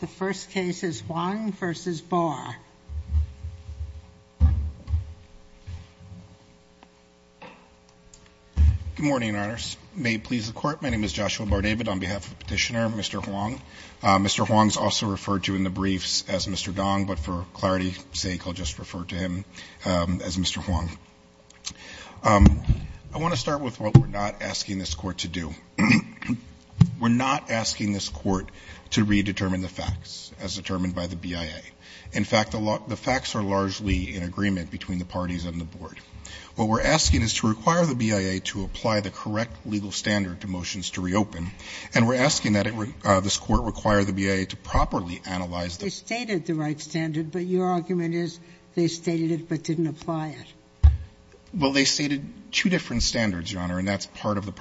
The first case is Hwang v. Barr Good morning, Your Honors. May it please the Court, my name is Joshua Barr David on behalf of Petitioner Mr. Hwang. Mr. Hwang is also referred to in the briefs as Mr. Dong, but for clarity's sake I'll just refer to him as Mr. Hwang. I want to start with what we're not asking this Court to do. We're not asking this Court to do is to require the BIA to apply the correct legal standard to motions to reopen. In fact, the facts are largely in agreement between the parties and the board. What we're asking is to require the BIA to apply the correct legal standard to motions to reopen, and we're asking that this Court require the BIA to properly analyze the facts. Ginsburg They stated the right standard, but your argument is they stated it but didn't apply it. Barr Well, they stated two different standards, Your Honor, and that's part of the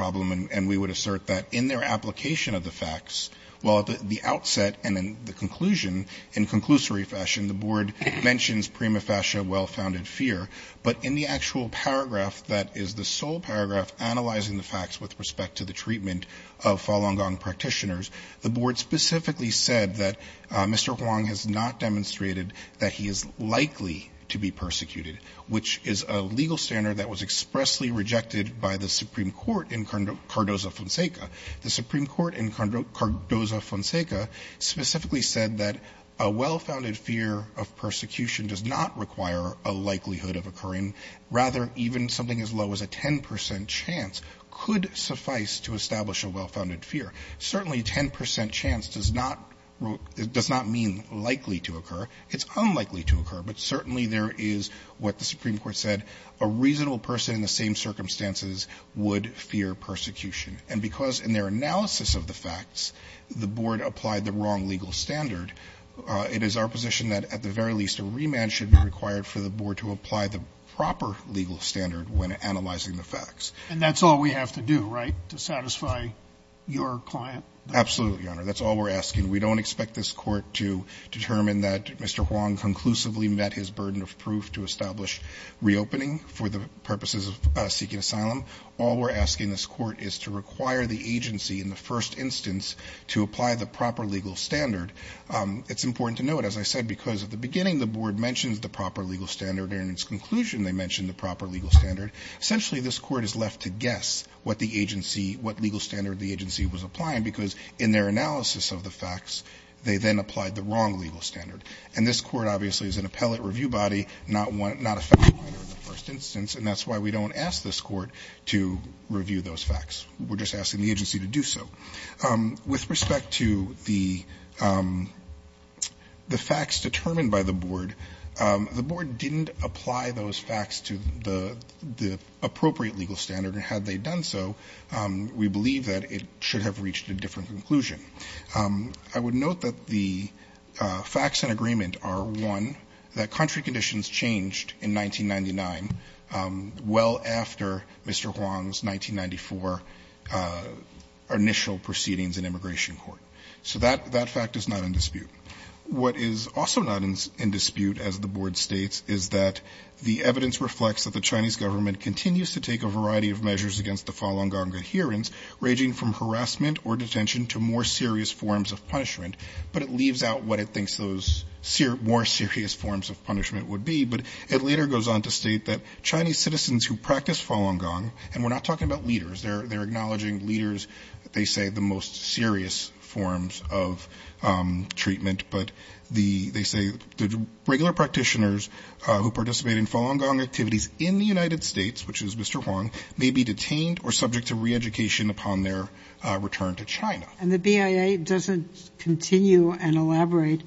conclusion. In conclusory fashion, the board mentions prima facie a well-founded fear, but in the actual paragraph that is the sole paragraph analyzing the facts with respect to the treatment of Falun Gong practitioners, the board specifically said that Mr. Hwang has not demonstrated that he is likely to be persecuted, which is a legal standard that was expressly rejected by the Supreme Court in Cardozo-Fonseca. Specifically said that a well-founded fear of persecution does not require a likelihood of occurring. Rather, even something as low as a 10 percent chance could suffice to establish a well-founded fear. Certainly, 10 percent chance does not mean likely to occur. It's unlikely to occur, but certainly there is what the Supreme Court said, a reasonable person in the same circumstances would fear persecution. And because in their analysis of the facts, the board applied the wrong legal standard, it is our position that at the very least a remand should be required for the board to apply the proper legal standard when analyzing the facts. Judge Goldberg And that's all we have to do, right, to satisfy your client? Barr Absolutely, Your Honor. That's all we're asking. We don't expect this court to determine that Mr. Hwang conclusively met his burden of proof to establish reopening for the purposes of seeking asylum. All we're asking this court is to require the agency in the first instance to apply the proper legal standard. It's important to note, as I said, because at the beginning the board mentions the proper legal standard and in its conclusion they mention the proper legal standard. Essentially, this court is left to guess what the agency, what legal standard the agency was applying because in their analysis of the facts, they then applied the wrong legal standard. And this court obviously is an appellate review body, not a fact finder in the first instance, and that's why we don't ask this court to review those facts. We're just asking the agency to do so. With respect to the facts determined by the board, the board didn't apply those facts to the appropriate legal standard, and had they done so, we believe that it should have reached a different conclusion. I would note that the facts in agreement are, one, that country conditions changed in 1999 well after Mr. Hwang's 1992 application for initial proceedings in immigration court. So that fact is not in dispute. What is also not in dispute, as the board states, is that the evidence reflects that the Chinese government continues to take a variety of measures against the Falun Gong adherents, ranging from harassment or detention to more serious forms of punishment, but it leaves out what it thinks those more serious forms of punishment would be. But it later goes on to state that Chinese practitioners, they're acknowledging leaders, they say the most serious forms of treatment, but they say the regular practitioners who participate in Falun Gong activities in the United States, which is Mr. Hwang, may be detained or subject to reeducation upon their return to China. And the BIA doesn't continue and elaborate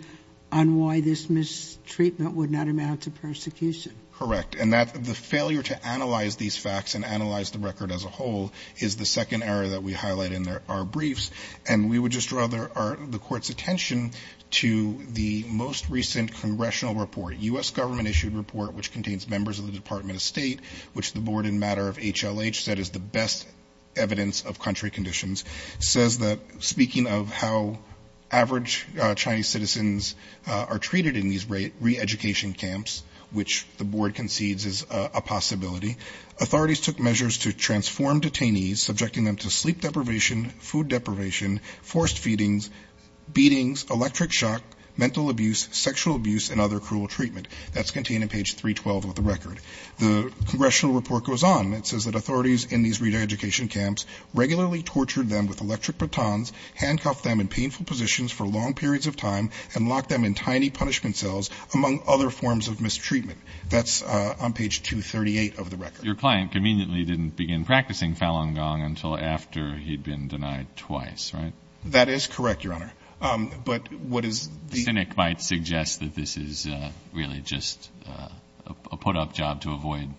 on why this mistreatment would not amount to persecution. Correct. And the failure to analyze these facts and analyze the record as a whole is the second area that we highlight in our briefs. And we would just draw the court's attention to the most recent congressional report, U.S. government-issued report, which contains members of the Department of State, which the board in matter of HLH said is the best evidence of country conditions, says that, speaking of how average Chinese citizens are treated in these reeducation camps, which the board concedes is a possibility, authorities took measures to transform detainees, subjecting them to sleep deprivation, food deprivation, forced feedings, beatings, electric shock, mental abuse, sexual abuse, and other cruel treatment. That's contained in page 312 of the record. The congressional report goes on. It says that authorities in these reeducation camps regularly tortured them with electric batons, handcuffed them in painful positions for long cells, among other forms of mistreatment. That's on page 238 of the record. Your client conveniently didn't begin practicing Falun Gong until after he'd been denied twice, right? That is correct, Your Honor. But what is the The cynic might suggest that this is really just a put-up job to avoid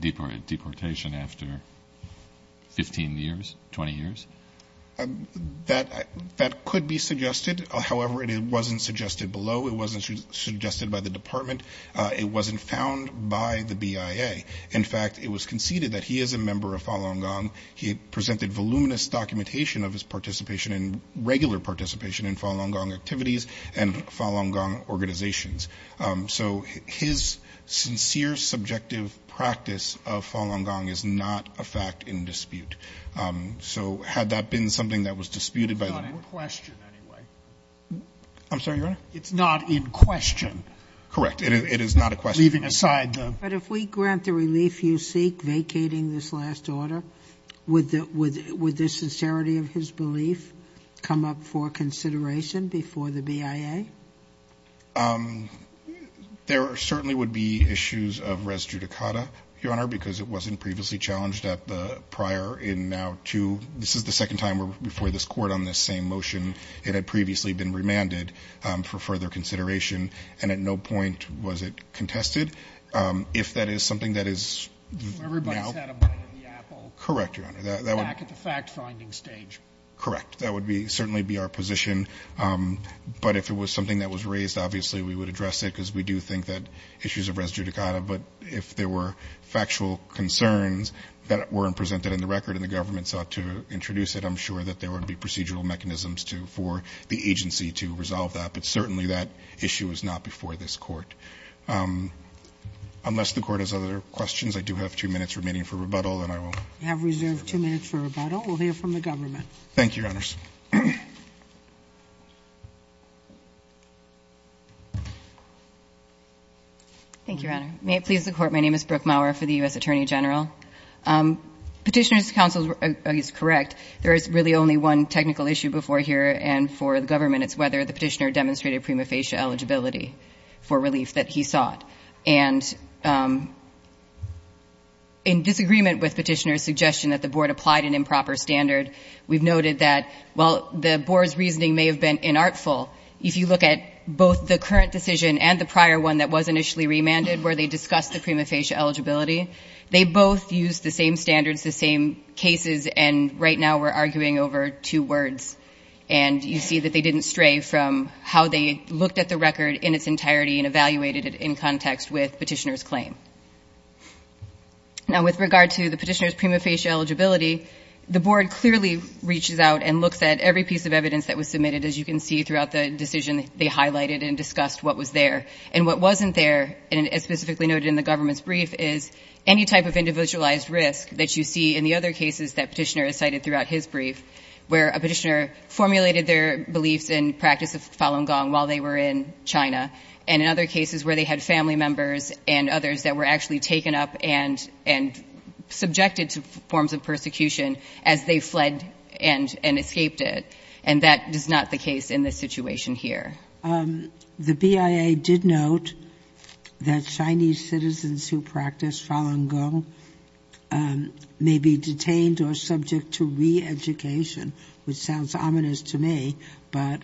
deportation after 15 years, 20 years? That could be suggested. However, it wasn't suggested below. It wasn't suggested by the department. It wasn't found by the BIA. In fact, it was conceded that he is a member of Falun Gong. He presented voluminous documentation of his participation and regular participation in Falun Gong activities and Falun Gong organizations. So his sincere subjective practice of Falun Gong is not in dispute. So had that been something that was disputed by the It's not in question anyway. I'm sorry, Your Honor? It's not in question. Correct. It is not a question. Leaving aside the But if we grant the relief you seek vacating this last order, would the sincerity of his belief come up for consideration before the BIA? There certainly would be issues of res judicata, Your Honor, because it wasn't previously challenged at the prior in now two. This is the second time before this Court on this same motion. It had previously been remanded for further consideration, and at no point was it contested. If that is something that is Everybody's had a bite of the apple. Correct, Your Honor. Back at the fact-finding stage. Correct. That would certainly be our position. But if it was something that was raised, obviously we would address it because we do think that issues of res judicata. But if there were factual concerns that weren't presented in the record and the government sought to introduce it, I'm sure that there would be procedural mechanisms for the agency to resolve that. But certainly that issue is not before this Court. Unless the Court has other questions, I do have two minutes remaining for rebuttal, and I will We have reserved two minutes for rebuttal. We'll hear from the government. Thank you, Your Honors. Thank you, Your Honor. May it please the Court, my name is Brooke Maurer for the U.S. Attorney General. Petitioner's counsel is correct. There is really only one technical issue before here, and for the government, it's whether the petitioner demonstrated prima facie eligibility for relief that he sought. And in disagreement with petitioner's suggestion that the Board applied an improper standard, we've noted that while the Board's reasoning may have been inartful, if you look at both the current decision and the prior one that was initially remanded where they discussed the prima facie eligibility, they both used the same standards, the same cases, and right now we're arguing over two words. And you see that they didn't stray from how they looked at the record in its entirety and evaluated it in context with petitioner's claim. Now, with regard to the petitioner's prima facie eligibility, the Board clearly reaches out and looks at every piece of evidence that was submitted. As you can see throughout the decision, they highlighted and discussed what was there. And what wasn't there, as specifically noted in the government's brief, is any type of individualized risk that you see in the other cases that petitioner has cited throughout his brief, where a petitioner formulated their beliefs and practice of Falun Gong while they were in China, and in other cases where they had family members and others that were actually taken up and subjected to forms of persecution as they fled and escaped it. And that is not the case in this situation here. The BIA did note that Chinese citizens who practice Falun Gong may be detained or subject to re-education, which sounds ominous to me, but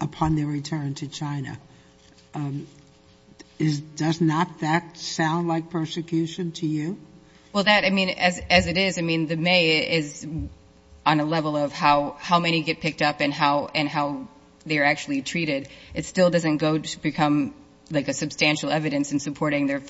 upon their return to China. Does not that sound like persecution to you? Well, that, I mean, as it is, I mean, the may is on a level of how many get picked up and how they are actually treated. It still doesn't go to become like a substantial evidence in supporting their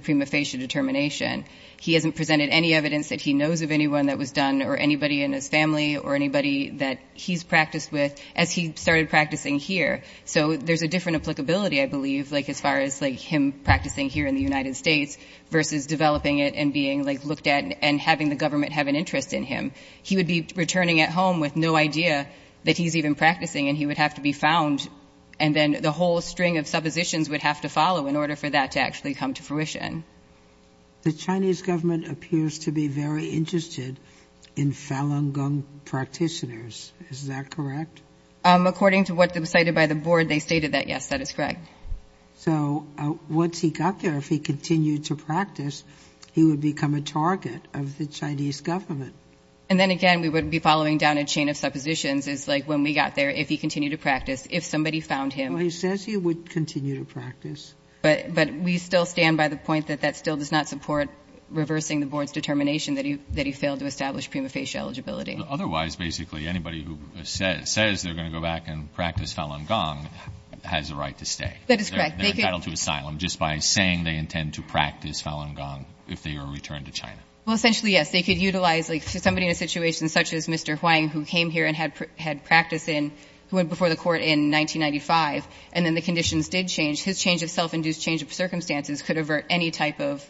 prima facie determination. He hasn't presented any evidence that he knows of anyone that was done or anybody in his family or anybody that he's practiced with as he started practicing here. So there's a different applicability, I believe, like as far as like him practicing here in the United States versus developing it and being like looked at and having the government have an interest in him. He would be returning at home with no idea that he's even practicing and he would have to be found and then the whole string of suppositions would have to follow in order for that to actually come to fruition. The Chinese government appears to be very interested in Falun Gong practitioners. Is that correct? According to what was cited by the board, they stated that, yes, that is correct. So once he got there, if he continued to practice, he would become a target of the following down a chain of suppositions is like when we got there, if he continued to practice, if somebody found him. Well, he says he would continue to practice. But we still stand by the point that that still does not support reversing the board's determination that he failed to establish prima facie eligibility. Otherwise, basically, anybody who says they're going to go back and practice Falun Gong has a right to stay. That is correct. They're entitled to asylum just by saying they intend to practice Falun Gong if they are returned to China. Well, essentially, yes. They could utilize, like, somebody in a situation such as Mr. Huang who came here and had practice in, who went before the court in 1995, and then the conditions did change. His change of self-induced change of circumstances could avert any type of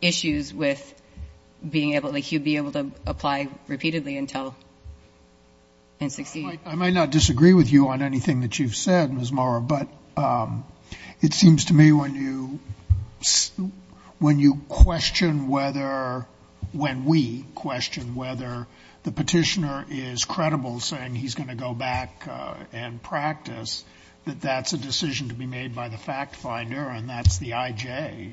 issues with being able to, like, he would be able to apply repeatedly until and succeed. I might not disagree with you on anything that you've said, Ms. Morrow, but it seems to me when you question whether, when we question whether the petitioner is credible saying he's going to go back and practice, that that's a decision to be made by the fact finder, and that's the IJ.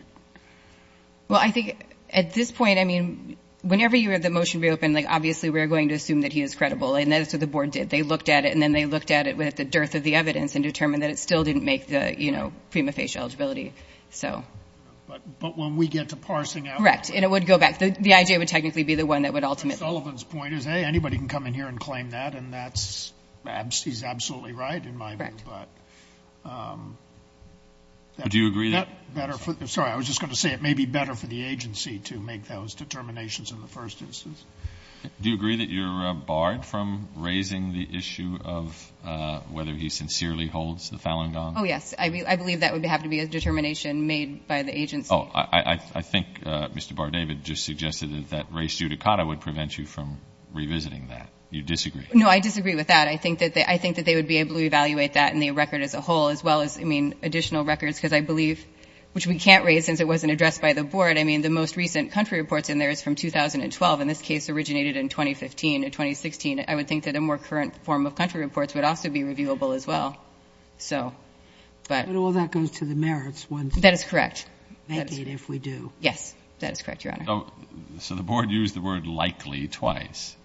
Well, I think at this point, I mean, whenever you have the motion reopened, like, obviously, we're going to assume that he is credible. And that's what the board did. They looked at it, and then they looked at it with the dearth of the evidence and determined that it still didn't make the, you know, prima facie eligibility. So. But when we get to parsing out. Correct. And it would go back. The IJ would technically be the one that would ultimately. Ms. Sullivan's point is, hey, anybody can come in here and claim that, and that's, he's absolutely right in my view. Correct. But. Do you agree that. Sorry, I was just going to say it may be better for the agency to make those determinations in the first instance. Do you agree that you're barred from raising the issue of whether he sincerely holds the Falun Gong? Oh, yes. I believe that would have to be a determination made by the agency. Oh, I think Mr. Bardavid just suggested that race judicata would prevent you from revisiting that. You disagree? No, I disagree with that. I think that they would be able to evaluate that in the record as a whole, as well as, I mean, additional records, because I believe, which we can't raise since it wasn't addressed by the board. I mean, the most recent country reports in there is from 2012. And this case originated in 2015. In 2016, I would think that a more current form of country reports would also be reviewable, as well. So, but. But all that goes to the merits ones. That is correct. If we do. Yes. That is correct, Your Honor. So the board used the word likely twice,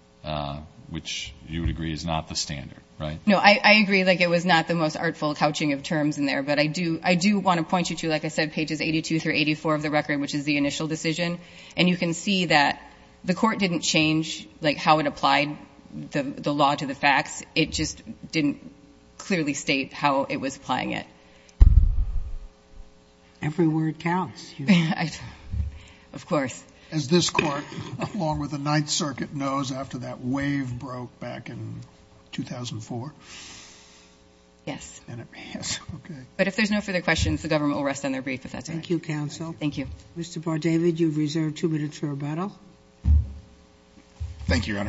which you would agree is not the standard, right? No, I agree. Like, it was not the most artful couching of terms in there. But I do want to point you to, like I said, pages 82 through 84 of the record, which is the initial decision. And you can see that the court didn't change, like, how it applied the law to the facts. It just didn't clearly state how it was applying it. Every word counts, Your Honor. Of course. As this court, along with the Ninth Circuit, knows, after that wave broke back in 2004. Yes. And it passed. Okay. But if there's no further questions, the government will rest on their brief, if that's all right. Thank you, counsel. Thank you. Mr. Bardavid, you have reserved two minutes for rebuttal. Thank you, Your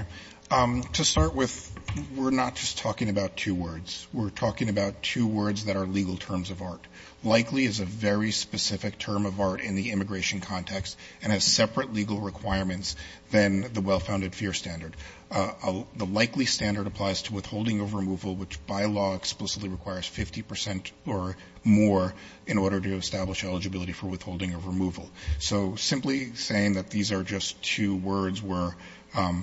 Honor. To start with, we're not just talking about two words. We're talking about two words that are legal terms of art. Likely is a very specific term of art in the immigration context and has separate legal requirements than the well-founded fear standard. The likely standard applies to withholding of removal, which by law explicitly requires 50 percent or more in order to establish eligibility for withholding of removal. So simply saying that these are just two words where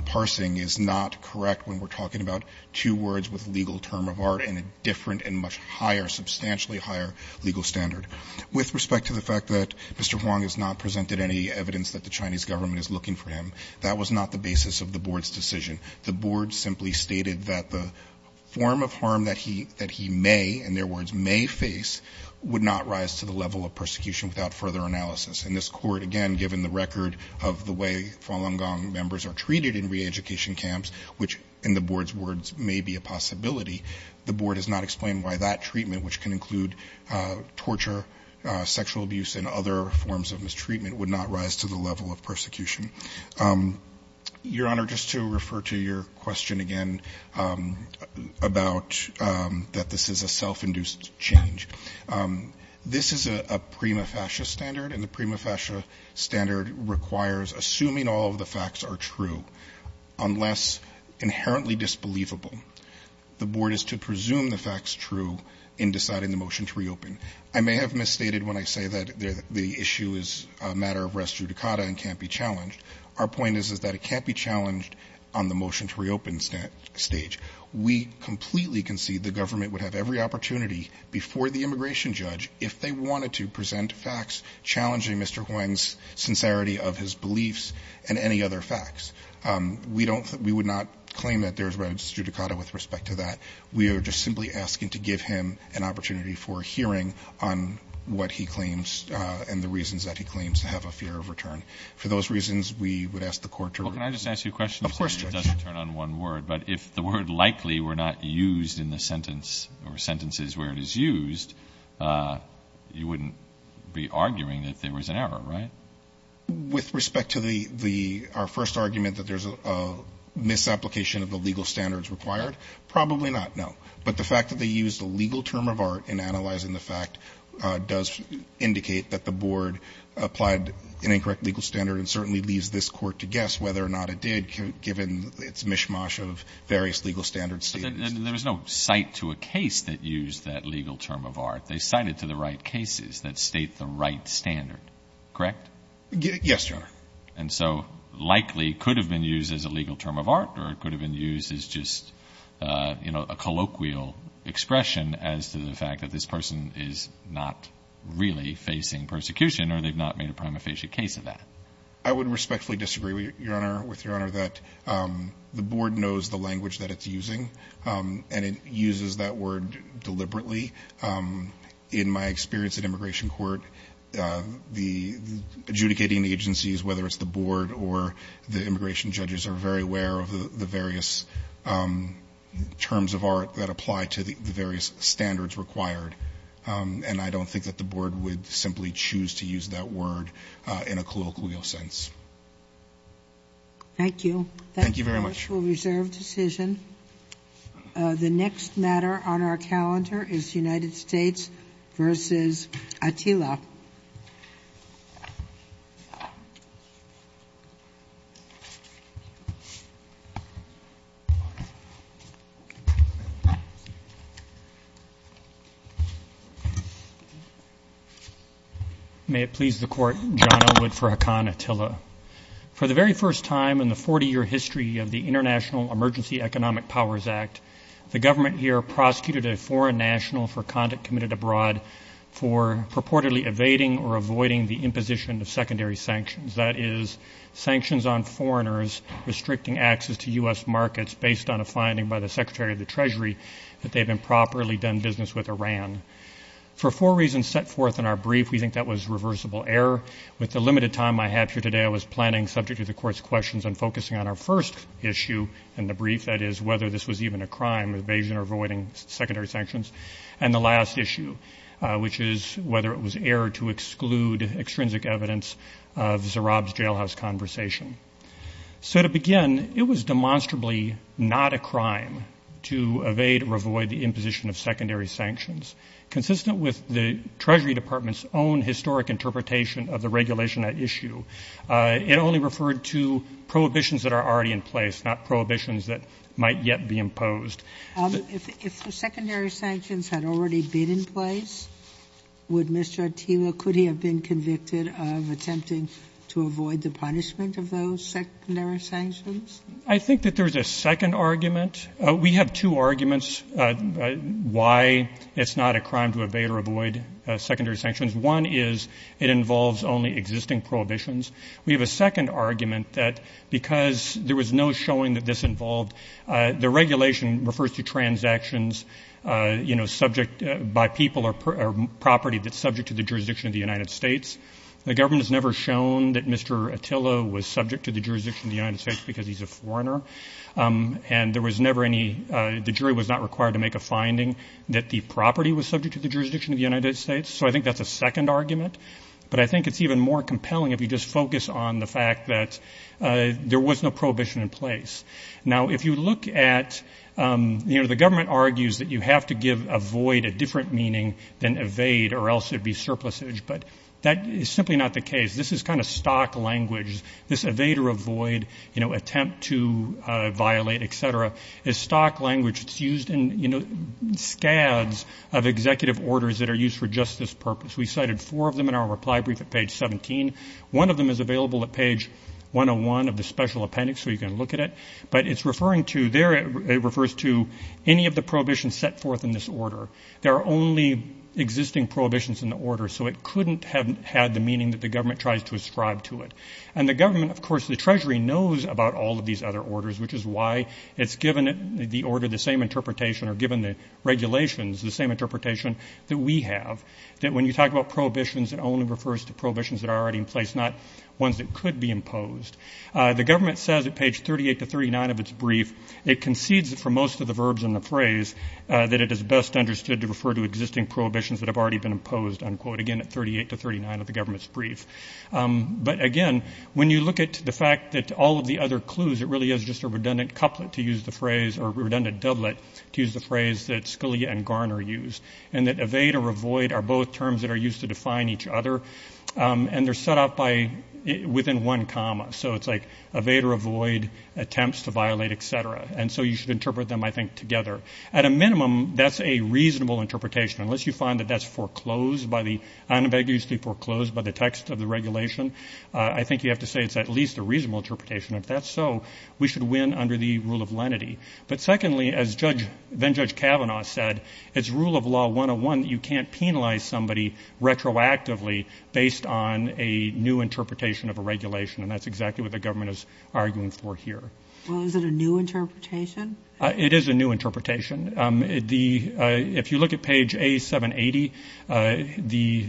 parsing is not correct when we're talking about two words with legal term of art and a different and much higher, substantially higher legal standard. With respect to the fact that Mr. Huang has not presented any evidence that the Chinese government is looking for him, that was not the basis of the board's decision. The board simply stated that the form of harm that he may, in their words, may face would not rise to the level of persecution without further analysis. In this court, again, given the record of the way Falun Gong members are treated in reeducation camps, which in the board's words may be a possibility, the board has not explained why that treatment, which can include torture, sexual abuse, and other forms of mistreatment, would not rise to the level of persecution. Your Honor, just to refer to your question again about that this is a self-induced change, this is a prima facie standard, and the prima facie standard requires assuming all of the facts are true unless inherently disbelievable. The board is to presume the fact's true in deciding the motion to reopen. I may have misstated when I say that the issue is a matter of res judicata and can't be challenged. Our point is that it can't be challenged on the motion to reopen stage. We completely concede the government would have every opportunity before the immigration judge if they wanted to present facts challenging Mr. Huang's sincerity of his beliefs and any other facts. We would not claim that there is res judicata with respect to that. We are just simply asking to give him an opportunity for hearing on what he claims and the reasons that he claims to have a fear of return. For those reasons, we would ask the court to reopen. Well, can I just ask you a question? It doesn't turn on one word, but if the word likely were not used in the sentence or sentences where it is used, you wouldn't be arguing that there was an error, right? With respect to our first argument that there's a misapplication of the legal standards required, probably not, no. But the fact that they used a legal term of art, an incorrect legal standard, certainly leaves this court to guess whether or not it did, given its mishmash of various legal standards. There was no cite to a case that used that legal term of art. They cited to the right cases that state the right standard, correct? Yes, Your Honor. And so likely could have been used as a legal term of art or it could have been used as just, you know, a colloquial expression as to the fact that this person is not really facing persecution or they've not made a prima facie case of that. I would respectfully disagree, Your Honor, with Your Honor, that the board knows the language that it's using and it uses that word deliberately. In my experience at immigration court, the adjudicating agencies, whether it's the board or the immigration judges, are very aware of the various terms of art that apply to the person. And I don't think that the board would simply choose to use that word in a colloquial sense. Thank you. Thank you very much. That is a reserved decision. The next matter on our calendar is United States v. Attila. May it please the court, John Elwood for Haqqan Attila. For the very first time in the 40-year history of the International Emergency Economic Powers Act, the government here prosecuted a foreign national for conduct committed abroad for purportedly evading or avoiding the imposition of secondary sanctions, that is, sanctions on foreigners restricting access to U.S. markets based on a finding by the U.S. Embassy. For four reasons set forth in our brief, we think that was reversible error. With the limited time I have here today, I was planning, subject to the court's questions, on focusing on our first issue in the brief, that is, whether this was even a crime, evasion or avoiding secondary sanctions, and the last issue, which is whether it was error to exclude extrinsic evidence of Zarab's jailhouse conversation. So to begin, it was demonstrably not a crime to evade or avoid the imposition of secondary sanctions. It only referred to prohibitions that are already in place, not prohibitions that might yet be imposed. If the secondary sanctions had already been in place, would Mr. Attila, could he have been convicted of attempting to avoid the punishment of those secondary sanctions? I think that there's a second argument. We have two arguments why it's not a crime to evade or avoid secondary sanctions. One is it involves only existing prohibitions. We have a second argument that because there was no showing that this involved, the regulation refers to transactions, you know, subject by people or property that's subject to the jurisdiction of the United States. The government has never shown that Mr. Attila was subject to the jurisdiction of the United States because he's a foreigner, and there was never any, the jury was not required to make a judgment that he was subject to the jurisdiction of the United States. So I think that's a second argument, but I think it's even more compelling if you just focus on the fact that there was no prohibition in place. Now, if you look at, you know, the government argues that you have to give avoid a different meaning than evade or else there'd be surplusage, but that is simply not the case. This is kind of stock language. This evade or avoid, you know, attempt to violate, et cetera, is stock language. It's used in, you know, scads of executive orders that are used for justice purpose. We cited four of them in our reply brief at page 17. One of them is available at page 101 of the special appendix, so you can look at it. But it's referring to, there it refers to any of the prohibitions set forth in this order. There are only existing prohibitions in the order, so it couldn't have had the meaning that the government tries to ascribe to it. And the government, of course, the Treasury knows about all of these other orders, which is why it's given the order the same interpretation or given the regulations the same interpretation that we have. That when you talk about prohibitions, it only refers to prohibitions that are already in place, not ones that could be imposed. The government says at page 38 to 39 of its brief, it concedes that for most of the verbs in the phrase, that it is best understood to refer to existing prohibitions that have already been imposed, unquote, again at 38 to 39 of the government's brief. But again, when you look at the fact that all of the other clues, it really is just a phrase that Scalia and Garner used. And that evade or avoid are both terms that are used to define each other. And they're set up by, within one comma. So it's like evade or avoid, attempts to violate, et cetera. And so you should interpret them, I think, together. At a minimum, that's a reasonable interpretation. Unless you find that that's foreclosed by the, unambiguously foreclosed by the text of the regulation, I think you have to say it's at least a reasonable interpretation. If that's so, we should win under the rule of lenity. But secondly, as Judge, then Judge Kavanaugh said, it's rule of law 101 that you can't penalize somebody retroactively based on a new interpretation of a regulation. And that's exactly what the government is arguing for here. Well, is it a new interpretation? It is a new interpretation. The, if you look at page A780, the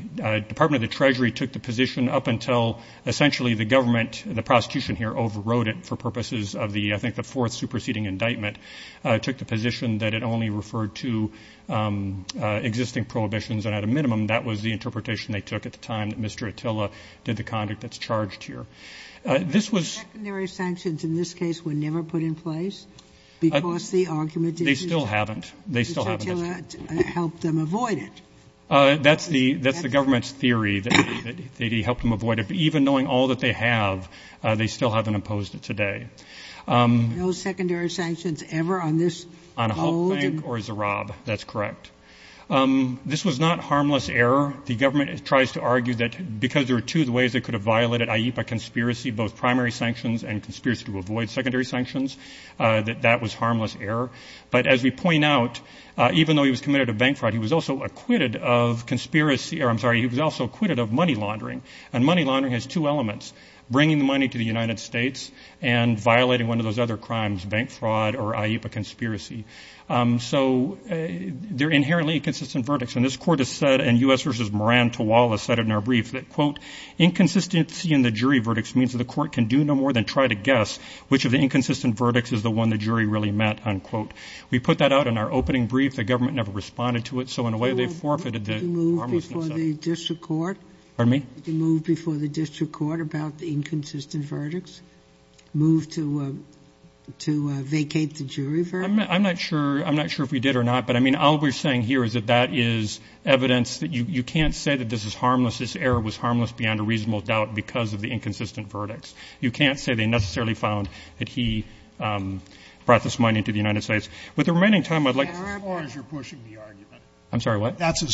Department of the Treasury took the position up until essentially the government, the prostitution here overrode it for purposes of the, I think the fourth superseding indictment, took the position that it only referred to existing prohibitions. And at a minimum, that was the interpretation they took at the time that Mr. Attila did the conduct that's charged here. This was. The secondary sanctions in this case were never put in place because the argument They still haven't. They still haven't. Mr. Attila helped them avoid it. That's the, that's the government's theory, that he helped them avoid it. But even knowing all that they have, they still haven't imposed it today. No secondary sanctions ever on this? On Hulk Bank or Zarab. That's correct. This was not harmless error. The government tries to argue that because there are two ways it could have violated IEPA conspiracy, both primary sanctions and conspiracy to avoid secondary sanctions, that that was harmless error. But as we point out, even though he was committed to bank fraud, he was also acquitted of conspiracy, or I'm sorry, he was also acquitted of money laundering. And money laundering has two elements. Bringing the money to the United States and violating one of those other crimes, bank fraud or IEPA conspiracy. So they're inherently inconsistent verdicts. And this court has said, and U.S. versus Moran Tawala said it in our brief, that quote, inconsistency in the jury verdicts means that the court can do no more than try to guess which of the inconsistent verdicts is the one the jury really met. Unquote. We put that out in our opening brief. The government never responded to it. So in a way, they forfeited the. I'm sorry, what? That's as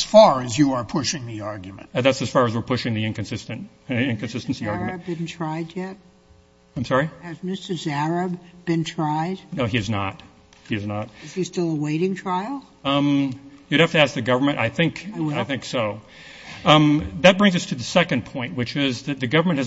far as you are pushing the argument. That's as far as we're pushing the inconsistent inconsistency argument. Has Mr. Zahrab been tried yet? I'm sorry? Has Mr. Zahrab been tried? No, he has not. He has not. Is he still awaiting trial? You'd have to ask the government. I think so. I will. That brings us to the second point, which is that the government has